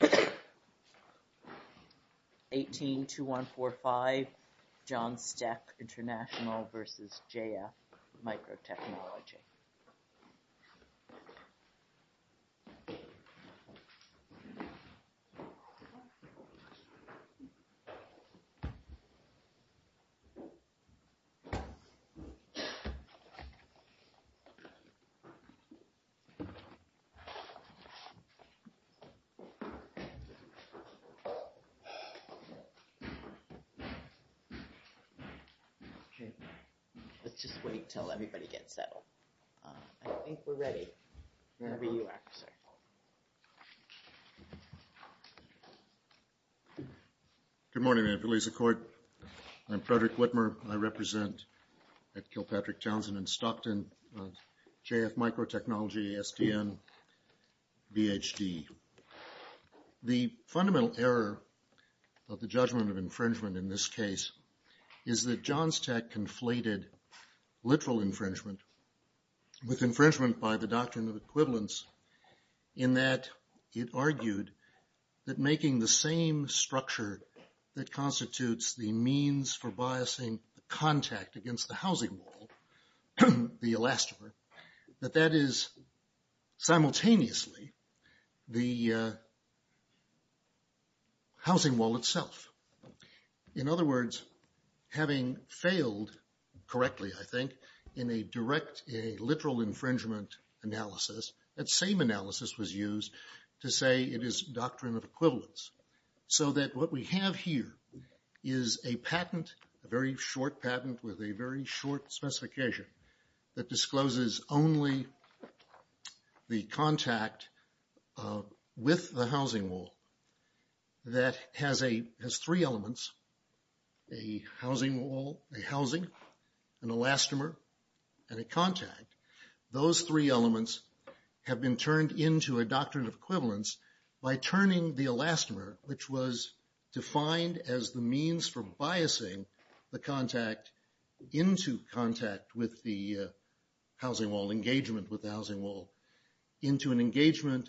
182145 Johnstech International v. JF Microtechnology SDN BHD 182145 Johnstech International v. JF Microtechnology SDN BHD 182145 Johnstech International v. JF Microtechnology The fundamental error of the judgment of infringement in this case is that Johnstech conflated literal infringement with infringement by the doctrine of equivalence in that it argued that making the same structure that constitutes the means for biasing the contact against the housing wall, the elastomer, that that is simultaneously the housing wall itself. In other words, having failed correctly, I think, in a direct literal infringement analysis, that same analysis was used to say it is doctrine of equivalence. So that what we have here is a patent, a very short patent with a very short specification that discloses only the contact with the housing wall that has three elements, a housing wall, a housing, an elastomer, and a contact. Those three elements have been turned into a doctrine of equivalence by turning the elastomer, which was defined as the means for biasing the contact into contact with the housing wall, engagement with the housing wall, into an engagement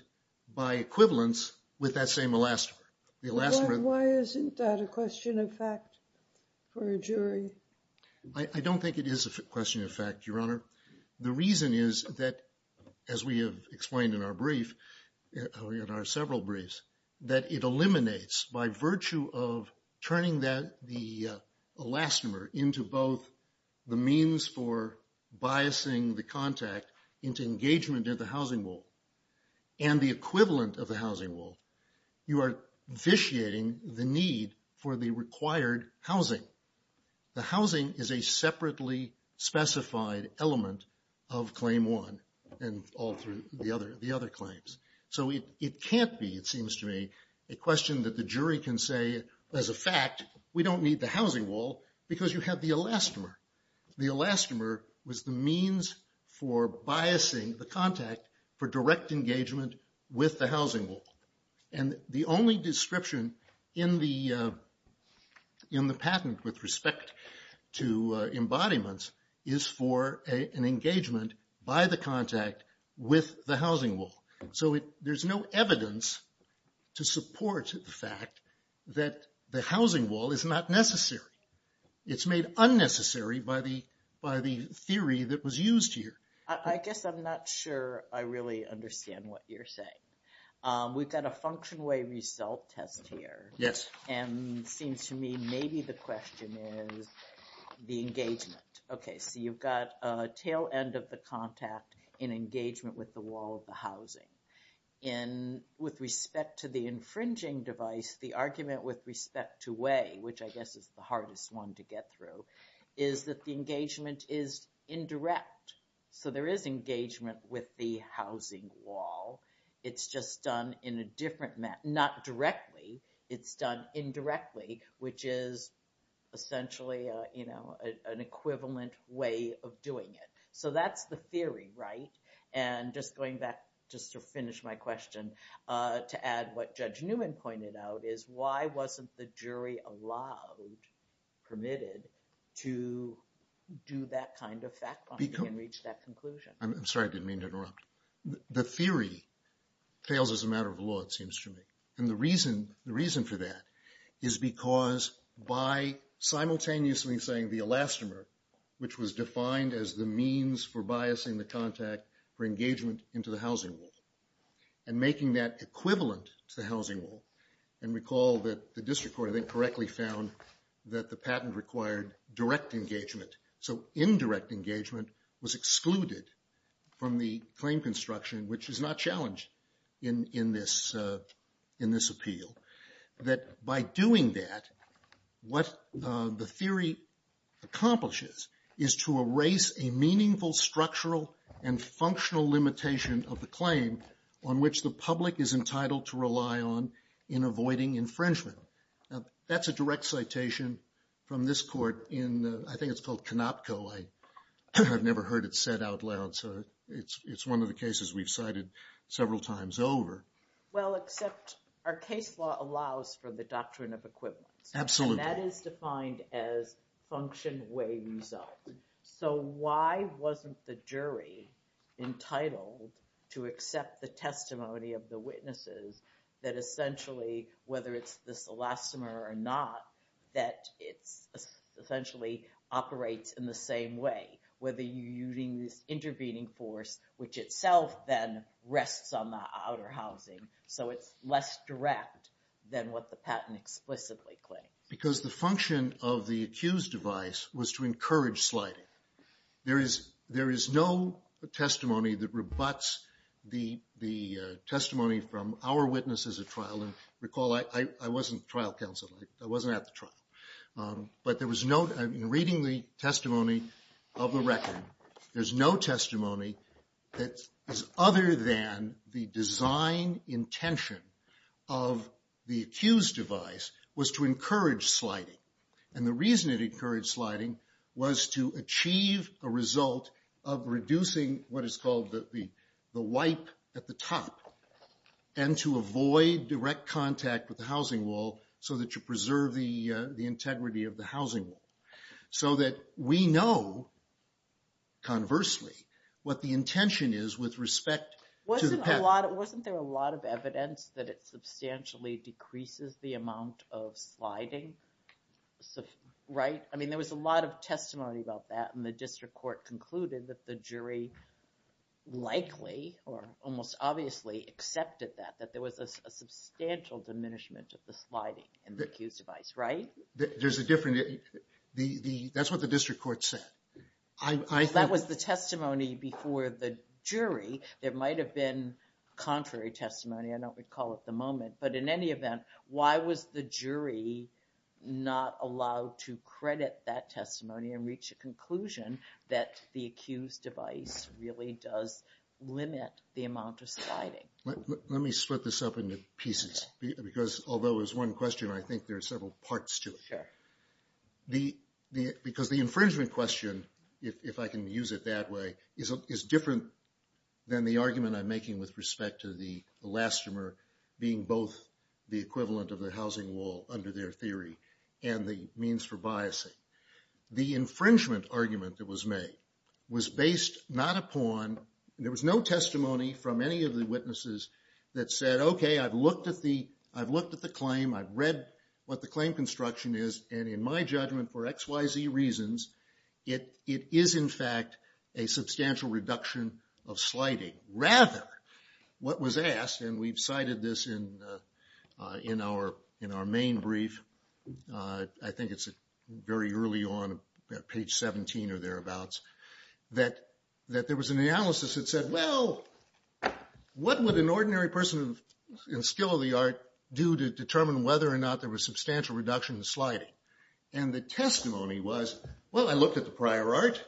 by equivalence with that same elastomer. Why isn't that a question of fact for a jury? I don't think it is a question of fact, Your Honor. The reason is that, as we have explained in our brief, in our several briefs, that it eliminates, by virtue of turning the elastomer into both the means for biasing the contact into engagement at the housing wall and the equivalent of the housing wall, you are vitiating the need for the required housing. The housing is a separately specified element of claim one and all through the other claims. So it can't be, it seems to me, a question that the jury can say, as a fact, we don't need the housing wall because you have the elastomer. The elastomer was the means for biasing the contact for direct engagement with the housing wall. And the only description in the patent with respect to embodiments is for an engagement by the contact with the housing wall. So there's no evidence to support the fact that the housing wall is not necessary. It's made unnecessary by the theory that was used here. I guess I'm not sure I really understand what you're saying. We've got a function way result test here. Yes. And it seems to me maybe the question is the engagement. Okay, so you've got a tail end of the contact in engagement with the wall of the housing. And with respect to the infringing device, the argument with respect to way, which I guess is the hardest one to get through, is that the engagement is indirect. So there is engagement with the housing wall. It's just done in a different, not directly, it's done indirectly, which is essentially an equivalent way of doing it. So that's the theory, right? And just going back just to finish my question to add what Judge Newman pointed out is why wasn't the jury allowed, permitted, to do that kind of fact-finding and reach that conclusion? I'm sorry, I didn't mean to interrupt. The theory fails as a matter of law, it seems to me. And the reason for that is because by simultaneously saying the elastomer, which was defined as the means for biasing the contact for engagement into the housing wall, and making that equivalent to the housing wall. And recall that the district court, I think, correctly found that the patent required direct engagement. So indirect engagement was excluded from the claim construction, which is not challenged in this appeal. That by doing that, what the theory accomplishes is to erase a meaningful structural and functional limitation of the claim on which the public is entitled to rely on in avoiding infringement. Now, that's a direct citation from this court in, I think it's called Canopco. I've never heard it said out loud, so it's one of the cases we've cited several times over. Well, except our case law allows for the doctrine of equivalence. Absolutely. And that is defined as function way result. So why wasn't the jury entitled to accept the testimony of the witnesses that essentially, whether it's this elastomer or not, that it essentially operates in the same way, whether you're using this intervening force, which itself then rests on the outer housing. So it's less direct than what the patent explicitly claims. Because the function of the accused device was to encourage sliding. There is no testimony that rebuts the testimony from our witnesses at trial. And recall, I wasn't trial counsel. I wasn't at the trial. But there was no, in reading the testimony of the record, there's no testimony that is other than the design intention of the accused device was to encourage sliding. And the reason it encouraged sliding was to achieve a result of reducing what is called the wipe at the top and to avoid direct contact with the housing wall so that you the intention is with respect to the patent. Wasn't there a lot of evidence that it substantially decreases the amount of sliding? Right? I mean, there was a lot of testimony about that. And the district court concluded that the jury likely or almost obviously accepted that, that there was a substantial diminishment of the sliding in the accused device, right? There's a different, that's what the district court said. That was the testimony before the jury. There might have been contrary testimony. I don't recall at the moment. But in any event, why was the jury not allowed to credit that testimony and reach a conclusion that the accused device really does limit the amount of sliding? Let me split this up into pieces. Because although there's one question, I think there can, if I can use it that way, is different than the argument I'm making with respect to the elastomer being both the equivalent of the housing wall under their theory and the means for biasing. The infringement argument that was made was based not upon, there was no testimony from any of the witnesses that said, okay, I've looked at the claim, I've read what the claim construction is, and in my judgment for X, Y, Z reasons, it is in fact a substantial reduction of sliding. Rather, what was asked, and we've cited this in our main brief, I think it's very early on, page 17 or thereabouts, that there was an analysis that said, well, what would an reduction in sliding? And the testimony was, well, I looked at the prior art,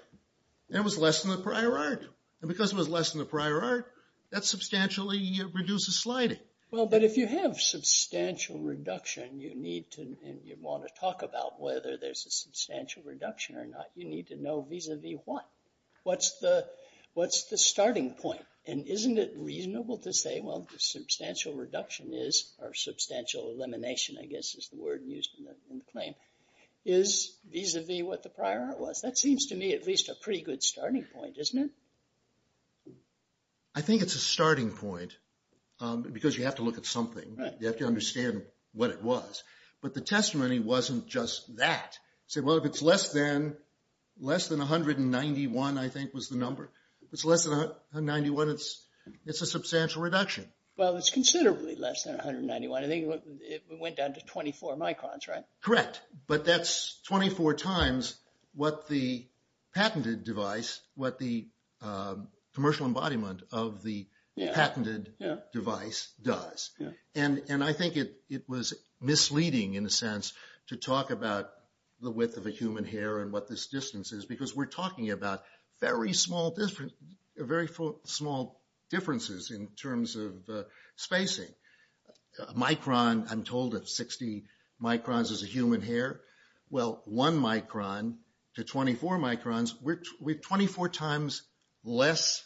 and it was less than the prior art. And because it was less than the prior art, that substantially reduces sliding. Well, but if you have substantial reduction, you need to, and you want to talk about whether there's a substantial reduction or not, you need to know vis-a-vis what. What's the starting point? And isn't it reasonable to say, well, the substantial reduction is, or substantial elimination, I guess is the word used in the claim, is vis-a-vis what the prior art was. That seems to me at least a pretty good starting point, isn't it? I think it's a starting point, because you have to look at something. You have to understand what it was. But the testimony wasn't just that. It said, well, if it's less than 191, I think was the number. If it's less than 191, it's a substantial reduction. Well, it's considerably less than 191. I think it went down to 24 microns, right? Correct. But that's 24 times what the patented device, what the commercial embodiment of the patented device does. And I think it was misleading, in a sense, to talk about the width of a human hair and what this distance is, because we're talking about very small differences in terms of spacing. A micron, I'm told, of 60 microns is a human hair. Well, one micron to 24 microns, we're 24 times less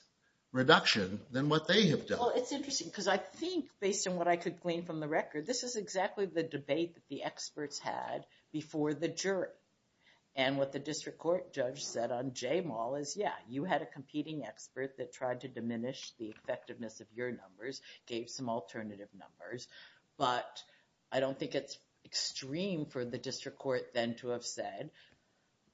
reduction than what they have done. Well, it's interesting, because I think, based on what I could glean from the record, this is exactly the debate that the experts had before the jury. And what the district court judge said on Jamal is, yeah, you had a competing expert that tried to diminish the effectiveness of your numbers, gave some alternative numbers. But I don't think it's extreme for the district court then to have said,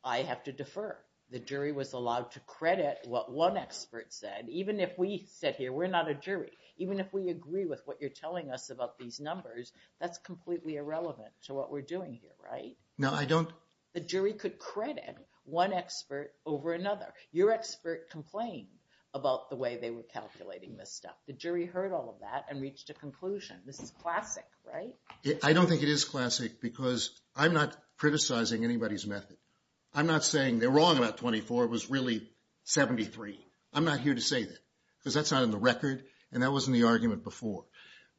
I have to defer. The jury was allowed to credit what one expert said. Even if we sit here, we're not a jury. Even if we agree with what you're telling us about these numbers, that's completely irrelevant to what we're doing here, right? No, I don't. The jury could credit one expert over another. Your expert complained about the way they were calculating this stuff. The jury heard all of that and reached a conclusion. This is classic, right? I don't think it is classic, because I'm not criticizing anybody's method. I'm not saying they're wrong about 24. It was really 73. I'm not here to say that, because that's not in the record, and that wasn't the argument before.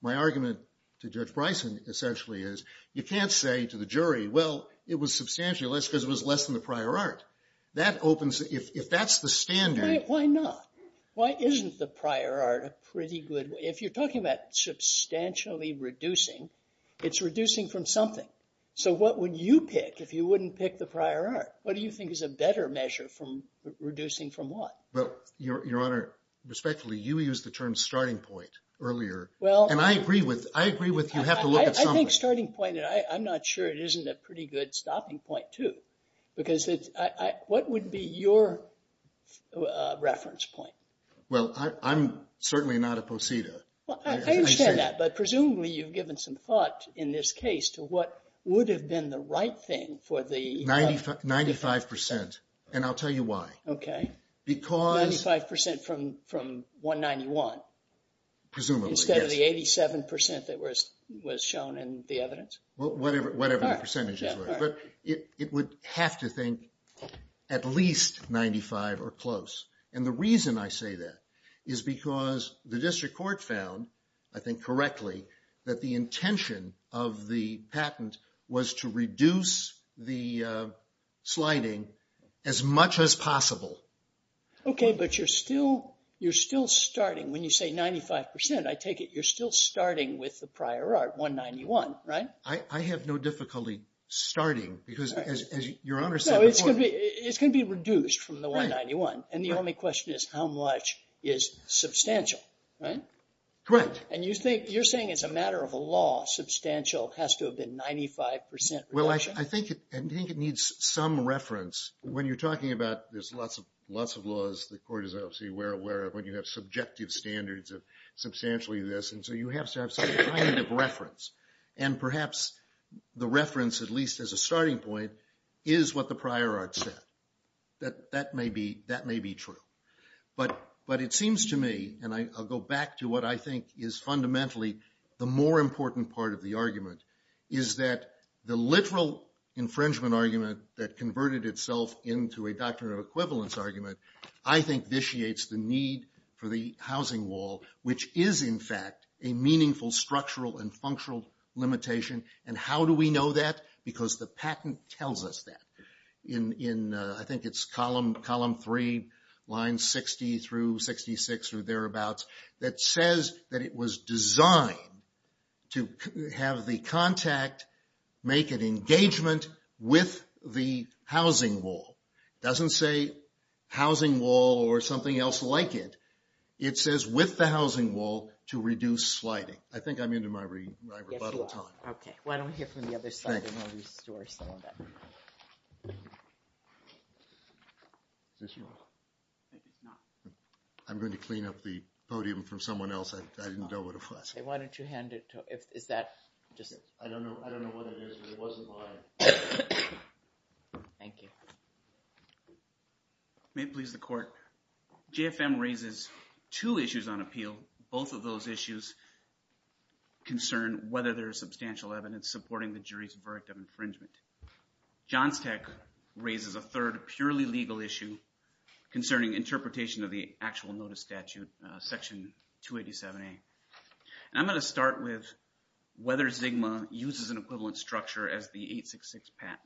My argument to Judge Bryson, essentially, is you can't say to the jury, well, it was substantially less, because it was less than the prior art. If that's the standard... Why not? Why isn't the prior art a pretty good... If you're talking about substantially reducing, it's reducing from something. So what would you pick if you wouldn't pick the prior art? What do you think is a better measure from reducing from what? Well, Your Honor, respectfully, you used the term starting point earlier. And I agree with you. You have to look at something. I think starting point... I'm not sure it isn't a pretty good stopping point, too. Because it's... What would be your reference point? Well, I'm certainly not a posita. I understand that. But presumably, you've given some thought in this case to what would have been the right thing for the... 95%. And I'll tell you why. Because... 95% from 191. Presumably, yes. 87% that was shown in the evidence? Whatever the percentages were. But it would have to think at least 95% or close. And the reason I say that is because the district court found, I think correctly, that the intention of the patent was to reduce the sliding as much as possible. Okay, but you're still starting. When you say 95%, I take it you're still starting with the prior art, 191, right? I have no difficulty starting because, as Your Honor said before... No, it's going to be reduced from the 191. And the only question is how much is substantial, right? Correct. And you're saying as a matter of law, substantial has to have been 95% reduction? Well, I think it needs some reference. When you're talking about, there's lots of laws the court is obviously aware of when you have subjective standards of substantially this. And so you have to have some kind of reference. And perhaps the reference, at least as a starting point, is what the prior art said. That may be true. But it seems to me, and I'll go back to what I think is fundamentally the more important part of the argument, is that the literal infringement argument that converted itself into a doctrine of equivalence argument, I think, vitiates the need for the housing wall, which is, in fact, a meaningful structural and functional limitation. And how do we know that? Because the patent tells us that. I think it's column 3, lines 60 through 66 or thereabouts, that says that it was designed to have the contact make an engagement with the housing wall. It doesn't say housing wall or something else like it. It says with the housing wall to reduce sliding. I think I'm into my rebuttal time. Yes, you are. Okay. Why don't we hear from the other side and we'll restore some of that. Is this on? I think it's not. I'm going to clean up the podium from someone else. I didn't know what it was. Why don't you hand it to – is that just – I don't know what it is, but it wasn't mine. Thank you. May it please the court. JFM raises two issues on appeal. Both of those issues concern whether there is substantial evidence supporting the jury's verdict of infringement. Johnsteck raises a third purely legal issue concerning interpretation of the actual notice statute, section 287A. I'm going to start with whether Zigma uses an equivalent structure as the 866 patent.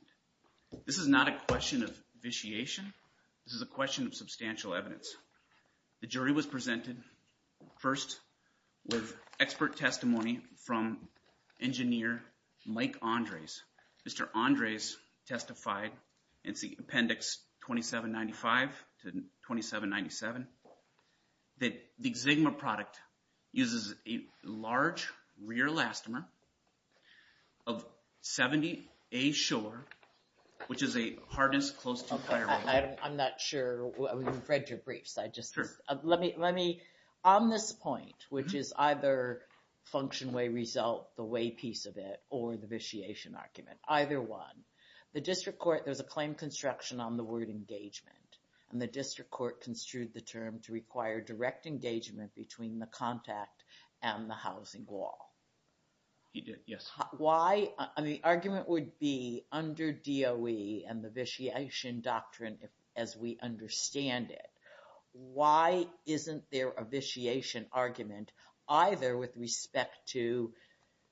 This is not a question of vitiation. This is a question of substantial evidence. The jury was presented first with expert testimony from engineer Mike Andres. Mr. Andres testified in Appendix 2795 to 2797 that the Zigma product uses a large rear elastomer of 70A shore, which is a hardness close to – I'm not sure. We've read your briefs. On this point, which is either function way result, the way piece of it, or the vitiation argument, either one, the district court – there's a claim construction on the word engagement, and the district court construed the term to require direct engagement between the contact and the housing wall. You did, yes. The argument would be under DOE and the vitiation doctrine, as we understand it, why isn't there a vitiation argument either with respect to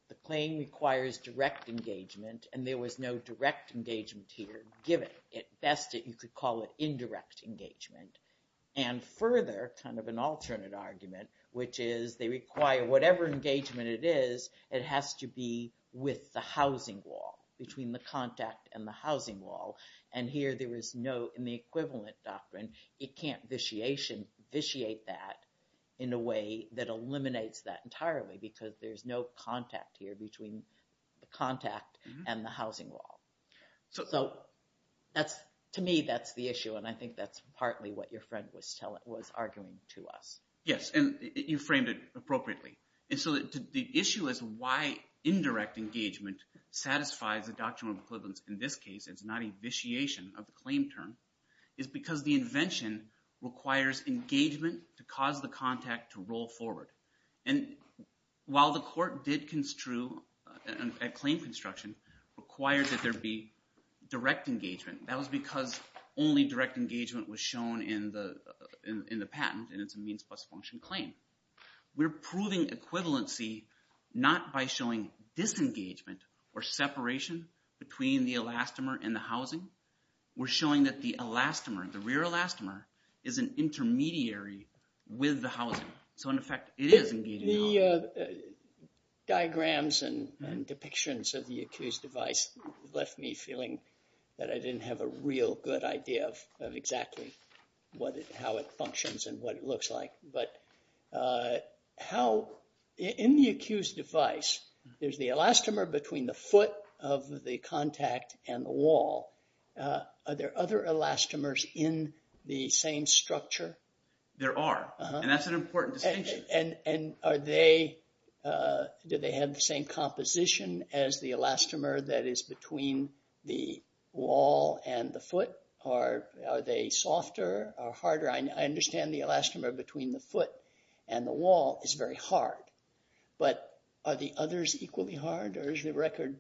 the claim requires direct engagement, and there was no direct engagement here, given at best you could call it indirect engagement, and further, kind of an alternate argument, which is they require whatever engagement it is, it has to be with the housing wall, between the contact and the housing wall, and here there is no – in the equivalent doctrine, it can't vitiate that in a way that eliminates that entirely, because there's no contact here between the contact and the housing wall. So to me, that's the issue, and I think that's partly what your friend was arguing to us. Yes, and you framed it appropriately. And so the issue is why indirect engagement satisfies the doctrinal equivalence in this case. It's not a vitiation of the claim term. It's because the invention requires engagement to cause the contact to roll forward, and while the court did construe a claim construction required that there be direct engagement, that was because only direct engagement was shown in the patent, and it's a means-plus-function claim. We're proving equivalency not by showing disengagement or separation between the elastomer and the housing. We're showing that the elastomer, the rear elastomer, is an intermediary with the housing. So in effect, it is engaging the housing. The diagrams and depictions of the accused device left me feeling that I didn't have a real good idea of exactly how it functions and what it looks like. But in the accused device, there's the elastomer between the foot of the contact and the wall. Are there other elastomers in the same structure? There are, and that's an important distinction. And do they have the same composition as the elastomer that is between the wall and the foot, or are they softer or harder? I understand the elastomer between the foot and the wall is very hard, but are the others equally hard, or is the record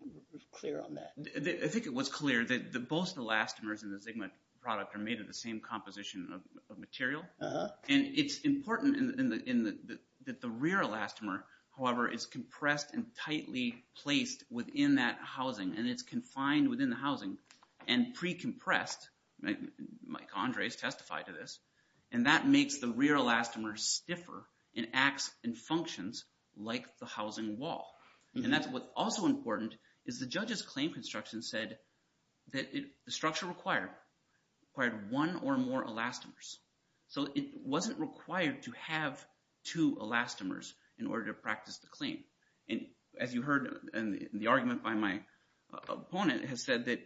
clear on that? I think it was clear that both the elastomers in the Zigma product are made of the same composition of material, and it's important that the rear elastomer, however, is compressed and tightly placed within that housing, and it's confined within the housing and pre-compressed. Mike Andres testified to this. And that makes the rear elastomer stiffer and acts and functions like the housing wall. And that's what's also important is the judge's claim construction said that the structure required one or more elastomers. So it wasn't required to have two elastomers in order to practice the claim. And as you heard in the argument by my opponent, it has said that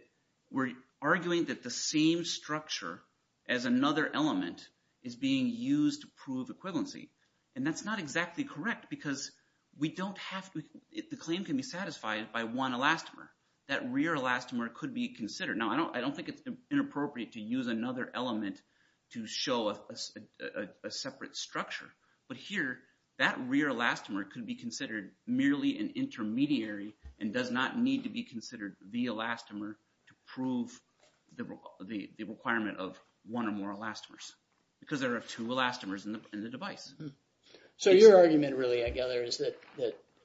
we're arguing that the same structure as another element is being used to prove equivalency. And that's not exactly correct because we don't have to – the claim can be satisfied by one elastomer. That rear elastomer could be considered. Now, I don't think it's inappropriate to use another element to show a separate structure. But here, that rear elastomer could be considered merely an intermediary and does not need to be considered the elastomer to prove the requirement of one or more elastomers because there are two elastomers in the device. So your argument really, I gather, is that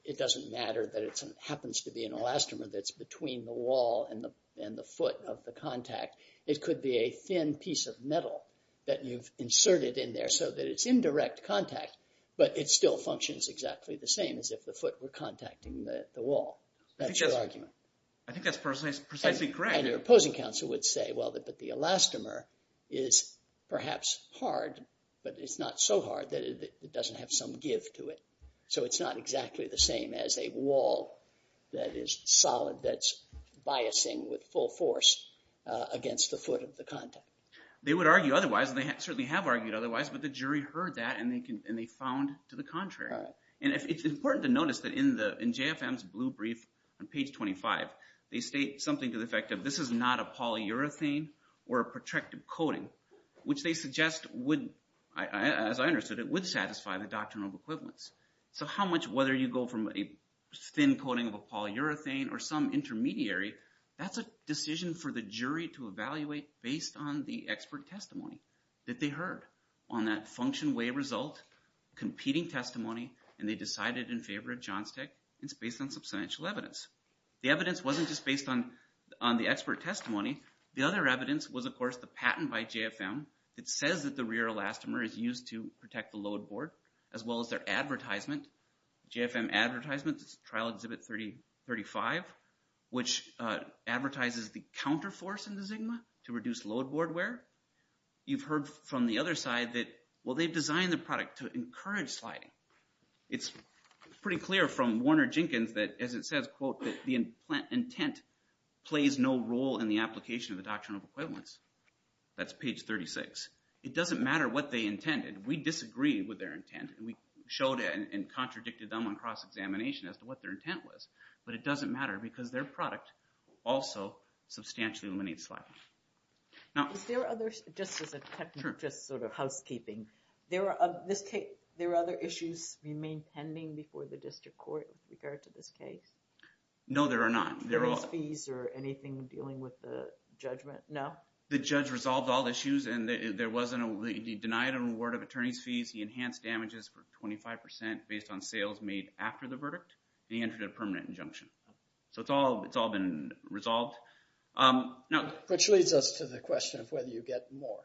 it doesn't matter that it happens to be an elastomer that's between the wall and the foot of the contact. It could be a thin piece of metal that you've inserted in there so that it's in direct contact but it still functions exactly the same as if the foot were contacting the wall. That's your argument. I think that's precisely correct. And your opposing counsel would say, well, but the elastomer is perhaps hard but it's not so hard that it doesn't have some give to it. So it's not exactly the same as a wall that is solid, that's biasing with full force against the foot of the contact. They would argue otherwise, and they certainly have argued otherwise, but the jury heard that and they found to the contrary. And it's important to notice that in JFM's blue brief on page 25, they state something to the effect of this is not a polyurethane or a protracted coating, which they suggest would, as I understood it, would satisfy the doctrinal equivalence. So how much, whether you go from a thin coating of a polyurethane or some intermediary, that's a decision for the jury to evaluate based on the expert testimony that they heard on that function way result, competing testimony, and they decided in favor of Johnstic and it's based on substantial evidence. The evidence wasn't just based on the expert testimony. The other evidence was, of course, the patent by JFM. It says that the rear elastomer is used to protect the load board as well as their advertisement. JFM advertisement, trial exhibit 35, which advertises the counterforce in the Zigma to reduce load board wear. You've heard from the other side that, well, they've designed the product to encourage sliding. It's pretty clear from Warner Jenkins that, as it says, quote, that the intent plays no role in the application of the doctrinal equivalence. That's page 36. It doesn't matter what they intended. We disagree with their intent and we showed and contradicted them on cross-examination as to what their intent was. But it doesn't matter because their product also substantially eliminates sliding. Is there other, just as a touch, just sort of housekeeping, there are other issues remaining pending before the district court with regard to this case? No, there are not. There is fees or anything dealing with the judgment? No? The judge resolved all the issues and he denied an award of attorney's fees. He enhanced damages for 25% based on sales made after the verdict. He entered a permanent injunction. So it's all been resolved. Which leads us to the question of whether you get more.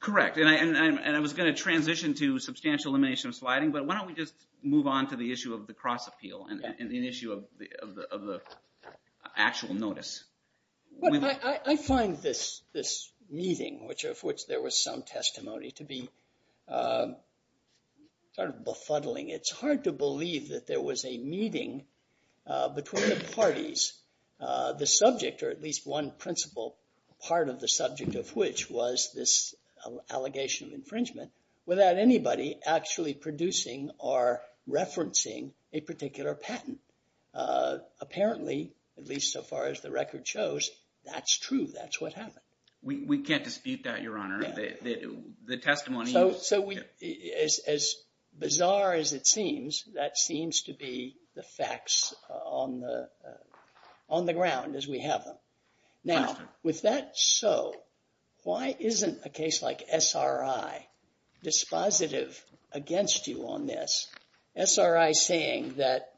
Correct, and I was going to transition to substantial elimination of sliding, but why don't we just move on to the issue of the cross-appeal and the issue of the actual notice. I find this meeting, of which there was some testimony, to be sort of befuddling. The subject, or at least one principle, part of the subject of which, was this allegation of infringement, without anybody actually producing or referencing a particular patent. Apparently, at least so far as the record shows, that's true. That's what happened. We can't dispute that, Your Honor. The testimony... As bizarre as it seems, that seems to be the facts on the ground as we have them. Now, with that so, why isn't a case like SRI dispositive against you on this? SRI saying that,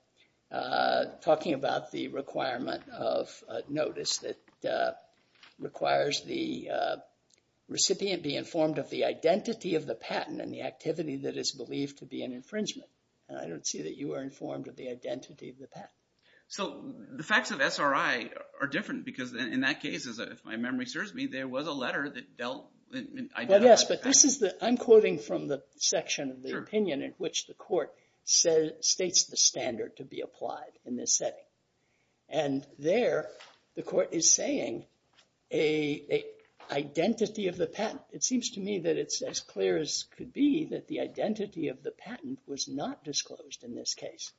talking about the requirement of notice that requires the recipient be informed of the identity of the patent and the activity that is believed to be an infringement. I don't see that you are informed of the identity of the patent. So, the facts of SRI are different, because in that case, if my memory serves me, there was a letter that dealt... Yes, but this is the... I'm quoting from the section of the opinion in which the court states the standard to be applied in this setting. And there, the court is saying, a identity of the patent... It seems to me that it's as clear as could be that the identity of the patent was not disclosed in this case.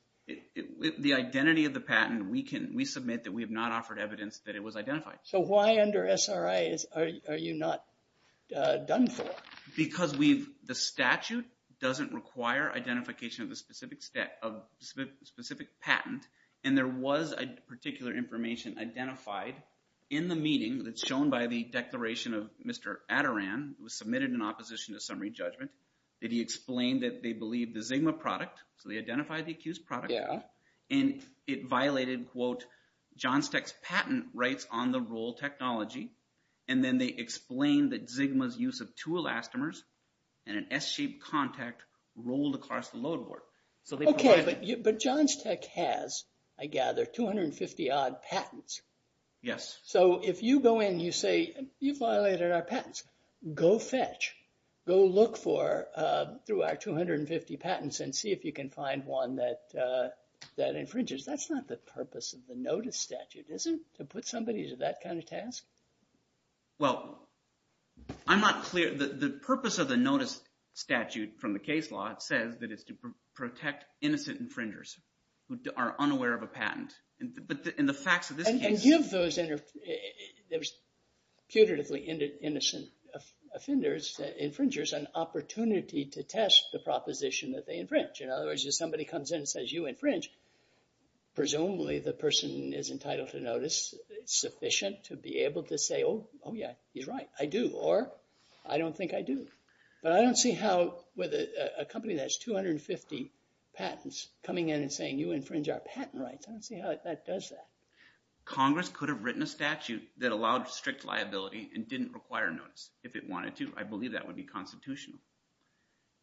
The identity of the patent, we submit that we have not offered evidence that it was identified. So, why under SRI are you not done for? Because the statute doesn't require identification of the specific patent, and there was particular information identified in the meeting that's shown by the declaration of Mr. Adaran, who was submitted in opposition to summary judgment, that he explained that they believed the Zigma product, so they identified the accused product, and it violated, quote, Johnsteck's patent rights on the roll technology, and then they explained that Zigma's use of two elastomers and an S-shaped contact rolled across the load board. Okay, but Johnsteck has, I gather, 250-odd patents. Yes. So, if you go in and you say, you violated our patents, go fetch. Go look through our 250 patents and see if you can find one that infringes. That's not the purpose of the notice statute, is it, to put somebody to that kind of task? Well, I'm not clear. The purpose of the notice statute from the case law, it says that it's to protect innocent infringers who are unaware of a patent, but in the facts of this case... There's putatively innocent offenders, infringers, an opportunity to test the proposition that they infringe. In other words, if somebody comes in and says, you infringed, presumably the person is entitled to notice. It's sufficient to be able to say, oh, yeah, he's right. I do, or I don't think I do. But I don't see how, with a company that has 250 patents, coming in and saying, you infringe our patent rights. I don't see how that does that. Congress could have written a statute that allowed strict liability and didn't require notice if it wanted to. I believe that would be constitutional.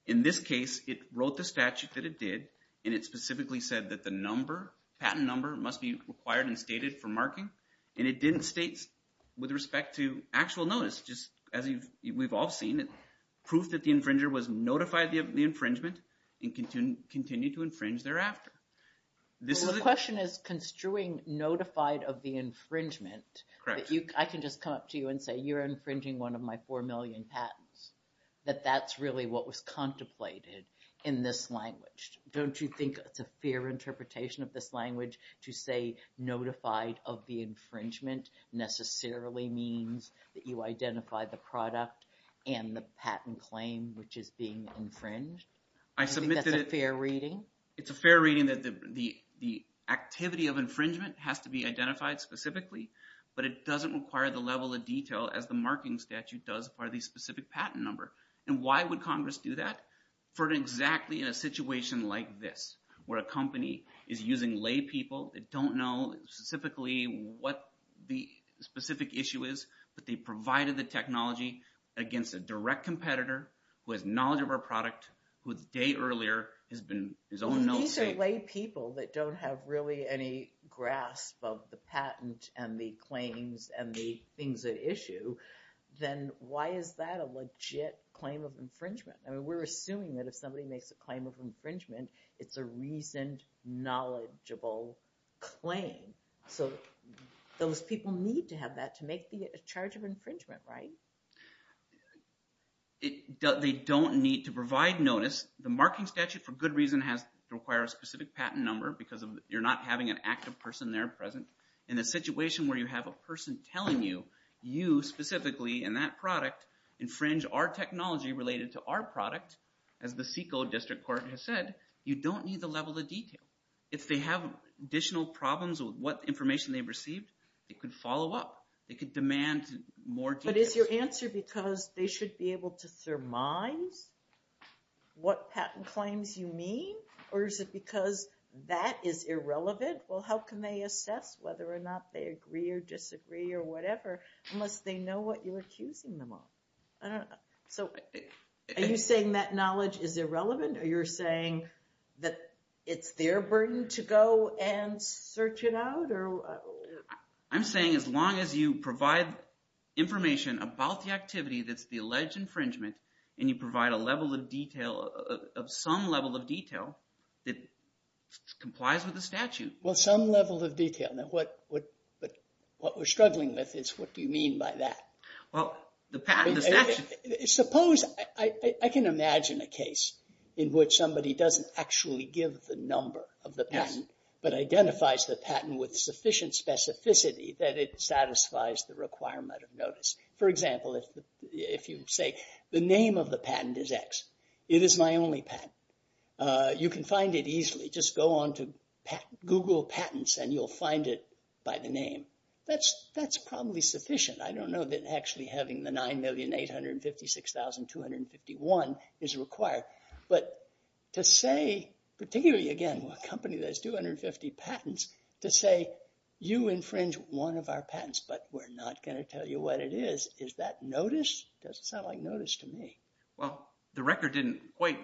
In this case, it wrote the statute that it did, and it specifically said that the number, patent number, must be required and stated for marking, and it didn't state, with respect to actual notice, just as we've all seen it, proof that the infringer was notified of the infringement and continued to infringe thereafter. The question is construing notified of the infringement. I can just come up to you and say, you're infringing one of my four million patents, that that's really what was contemplated in this language. Don't you think it's a fair interpretation of this language to say notified of the infringement necessarily means that you identify the product and the patent claim which is being infringed? I submit that it's a fair reading. It's a fair reading that the activity of infringement has to be identified specifically, but it doesn't require the level of detail as the marking statute does for the specific patent number. And why would Congress do that? For exactly in a situation like this, where a company is using laypeople that don't know specifically what the specific issue is, but they provided the technology against a direct competitor who has knowledge of our product, who the day earlier has been his own... These are laypeople that don't have really any grasp of the patent and the claims and the things at issue. Then why is that a legit claim of infringement? We're assuming that if somebody makes a claim of infringement, it's a reasoned, knowledgeable claim. So those people need to have that to make the charge of infringement, right? They don't need to provide notice. The marking statute, for good reason, has to require a specific patent number because you're not having an active person there present. In a situation where you have a person telling you, you specifically and that product, infringe our technology related to our product, as the SECO district court has said, you don't need the level of detail. If they have additional problems with what information they've received, it could follow up. It could demand more details. But is your answer because they should be able to surmise what patent claims you mean? Or is it because that is irrelevant? Well, how can they assess whether or not they agree or disagree or whatever, unless they know what you're accusing them of? I don't know. So are you saying that knowledge is irrelevant? Are you saying that it's their burden to go and search it out? I'm saying as long as you provide information about the activity that's the alleged infringement and you provide a level of detail, some level of detail that complies with the statute. Well, some level of detail. What we're struggling with is what do you mean by that? Well, the patent, the statute. Suppose, I can imagine a case in which somebody doesn't actually give the number of the patent but identifies the patent with sufficient specificity that it satisfies the requirement of notice. For example, if you say the name of the patent is X. It is my only patent. You can find it easily. Just go on to Google patents and you'll find it by the name. That's probably sufficient. I don't know that actually having the 9,856,251 is required. But to say, particularly, again, a company that has 250 patents, to say you infringe one of our patents but we're not going to tell you what it is, is that notice? It doesn't sound like notice to me. Well, the record didn't quite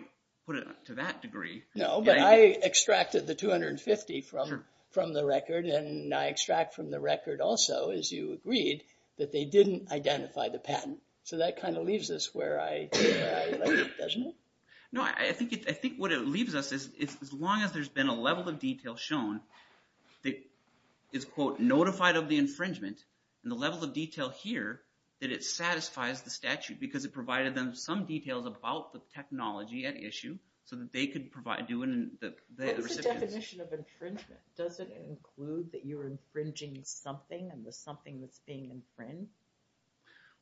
put it to that degree. No, but I extracted the 250 from the record and I extract from the record also, as you agreed, that they didn't identify the patent. So that kind of leaves us where I left off, doesn't it? No, I think what it leaves us is as long as there's been a level of detail shown that is, quote, notified of the infringement and the level of detail here, that it satisfies the statute because it provided them some details about the technology at issue so that they could provide... What's the definition of infringement? Does it include that you're infringing something and there's something that's being infringed?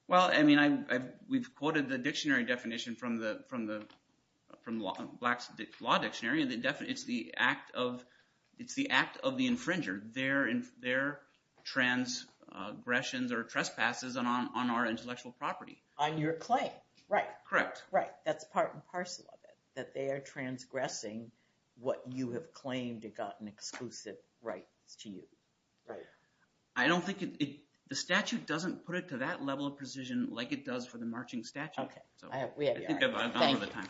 Well, I mean, we've quoted the dictionary definition from the Black Law Dictionary. It's the act of the infringer, their transgressions or trespasses on our intellectual property. On your claim, right. Correct. Right, that's part and parcel of it, that they are transgressing what you have claimed to have gotten exclusive rights to you. Right. I don't think it... The statute doesn't put it to that level of precision like it does for the marching statute. Okay. I think I've run out of time.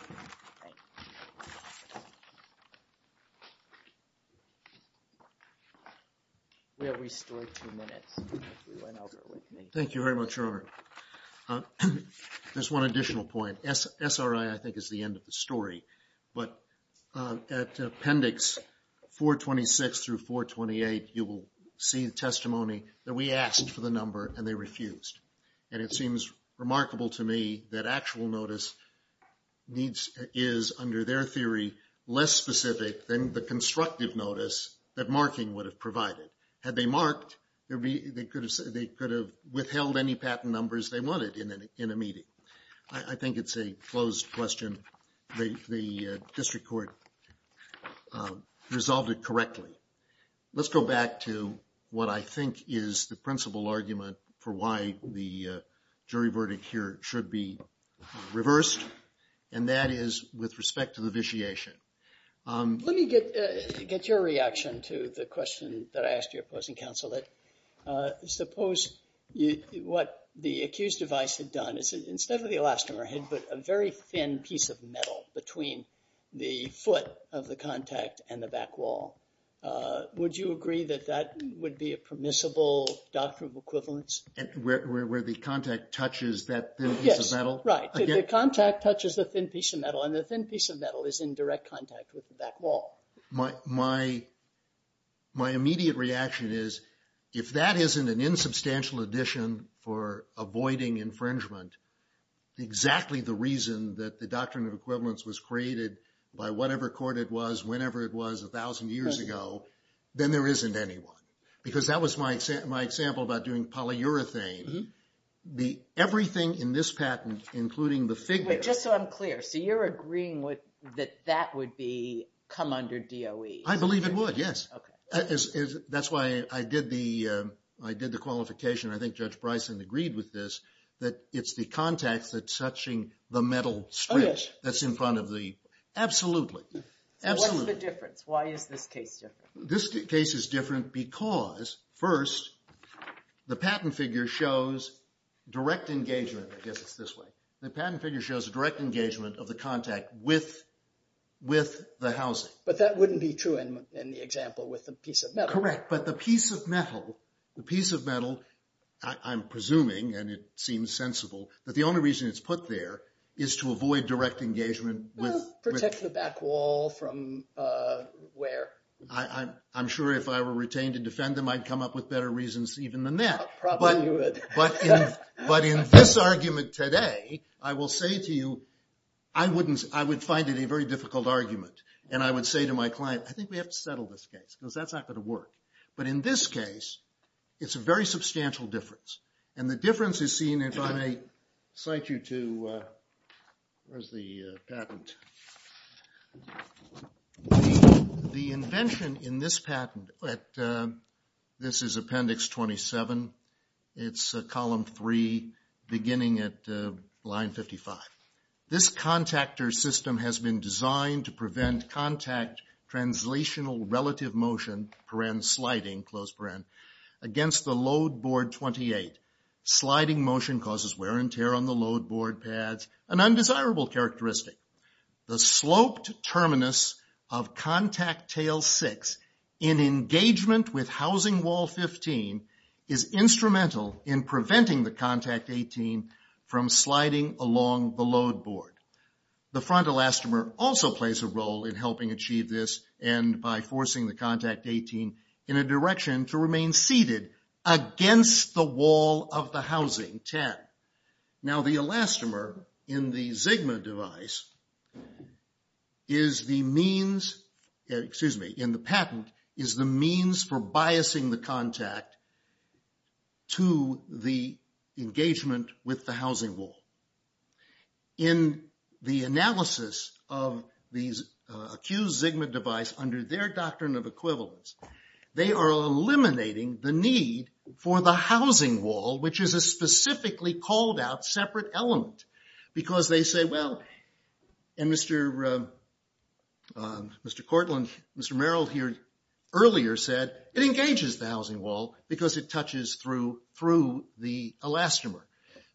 We have restored two minutes. Thank you very much, Robert. There's one additional point. SRI, I think, is the end of the story. But at appendix 426 through 428, you will see the testimony that we asked for the number and they refused. And it seems remarkable to me that actual notice is, under their theory, less specific than the constructive notice that marking would have provided. Had they marked, they could have withheld any patent numbers they wanted in a meeting. I think it's a closed question. The district court resolved it correctly. Let's go back to what I think is the principal argument for why the jury verdict here should be reversed. And that is with respect to the vitiation. Let me get your reaction to the question that I asked you, opposing counsel. Suppose what the accused device had done is instead of the elastomer, had put a very thin piece of metal between the foot of the contact and the back wall. Would you agree that that would be a permissible doctrine of equivalence? Where the contact touches that thin piece of metal? Yes, right. The contact touches the thin piece of metal and the thin piece of metal is in direct contact with the back wall. My immediate reaction is, if that isn't an insubstantial addition for avoiding infringement, exactly the reason that the doctrine of equivalence was created by whatever court it was, whenever it was a thousand years ago, then there isn't anyone. Because that was my example about doing polyurethane. Everything in this patent, including the figure... Wait, just so I'm clear. So you're agreeing that that would come under DOE? I believe it would, yes. That's why I did the qualification. I think Judge Bryson agreed with this, that it's the contact that's touching the metal strip that's in front of the... What's the difference? Why is this case different? This case is different because, first, the patent figure shows direct engagement. I guess it's this way. The patent figure shows direct engagement of the contact with the housing. But that wouldn't be true in the example with the piece of metal. Correct, but the piece of metal, I'm presuming, and it seems sensible, that the only reason it's put there is to avoid direct engagement with... Protect the back wall from where? I'm sure if I were retained to defend them, I'd come up with better reasons even than that. Probably you would. But in this argument today, I will say to you, I would find it a very difficult argument. And I would say to my client, I think we have to settle this case because that's not going to work. But in this case, it's a very substantial difference. And the difference is seen if I may cite you to... The invention in this patent, this is Appendix 27. It's Column 3, beginning at Line 55. This contactor system has been designed to prevent contact, translational relative motion, paren, sliding, close paren, against the load board 28. Sliding motion causes wear and tear on the load board pads, an undesirable characteristic. The sloped terminus of Contact Tail 6 in engagement with Housing Wall 15 is instrumental in preventing the Contact 18 from sliding along the load board. The front elastomer also plays a role in helping achieve this and by forcing the Contact 18 in a direction to remain seated against the wall of the Housing 10. Now the elastomer in the Zygma device is the means, excuse me, in the patent, is the means for biasing the contact to the engagement with the Housing Wall. In the analysis of the accused Zygma device under their doctrine of equivalence, they are eliminating the need for the Housing Wall, which is a specifically called out separate element. Because they say, well, and Mr. Courtland, Mr. Merrill here earlier said, it engages the Housing Wall because it touches through the elastomer.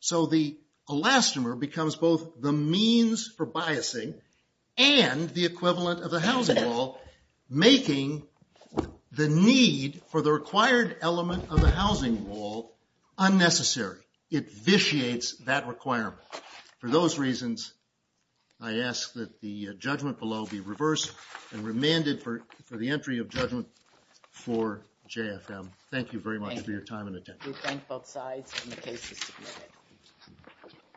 So the elastomer becomes both the means for biasing and the equivalent of the Housing Wall, making the need for the required element of the Housing Wall unnecessary. It vitiates that requirement. For those reasons, I ask that the judgment below be reversed and remanded for the entry of judgment for JFM. Thank you very much for your time and attention. We thank both sides and the case is submitted.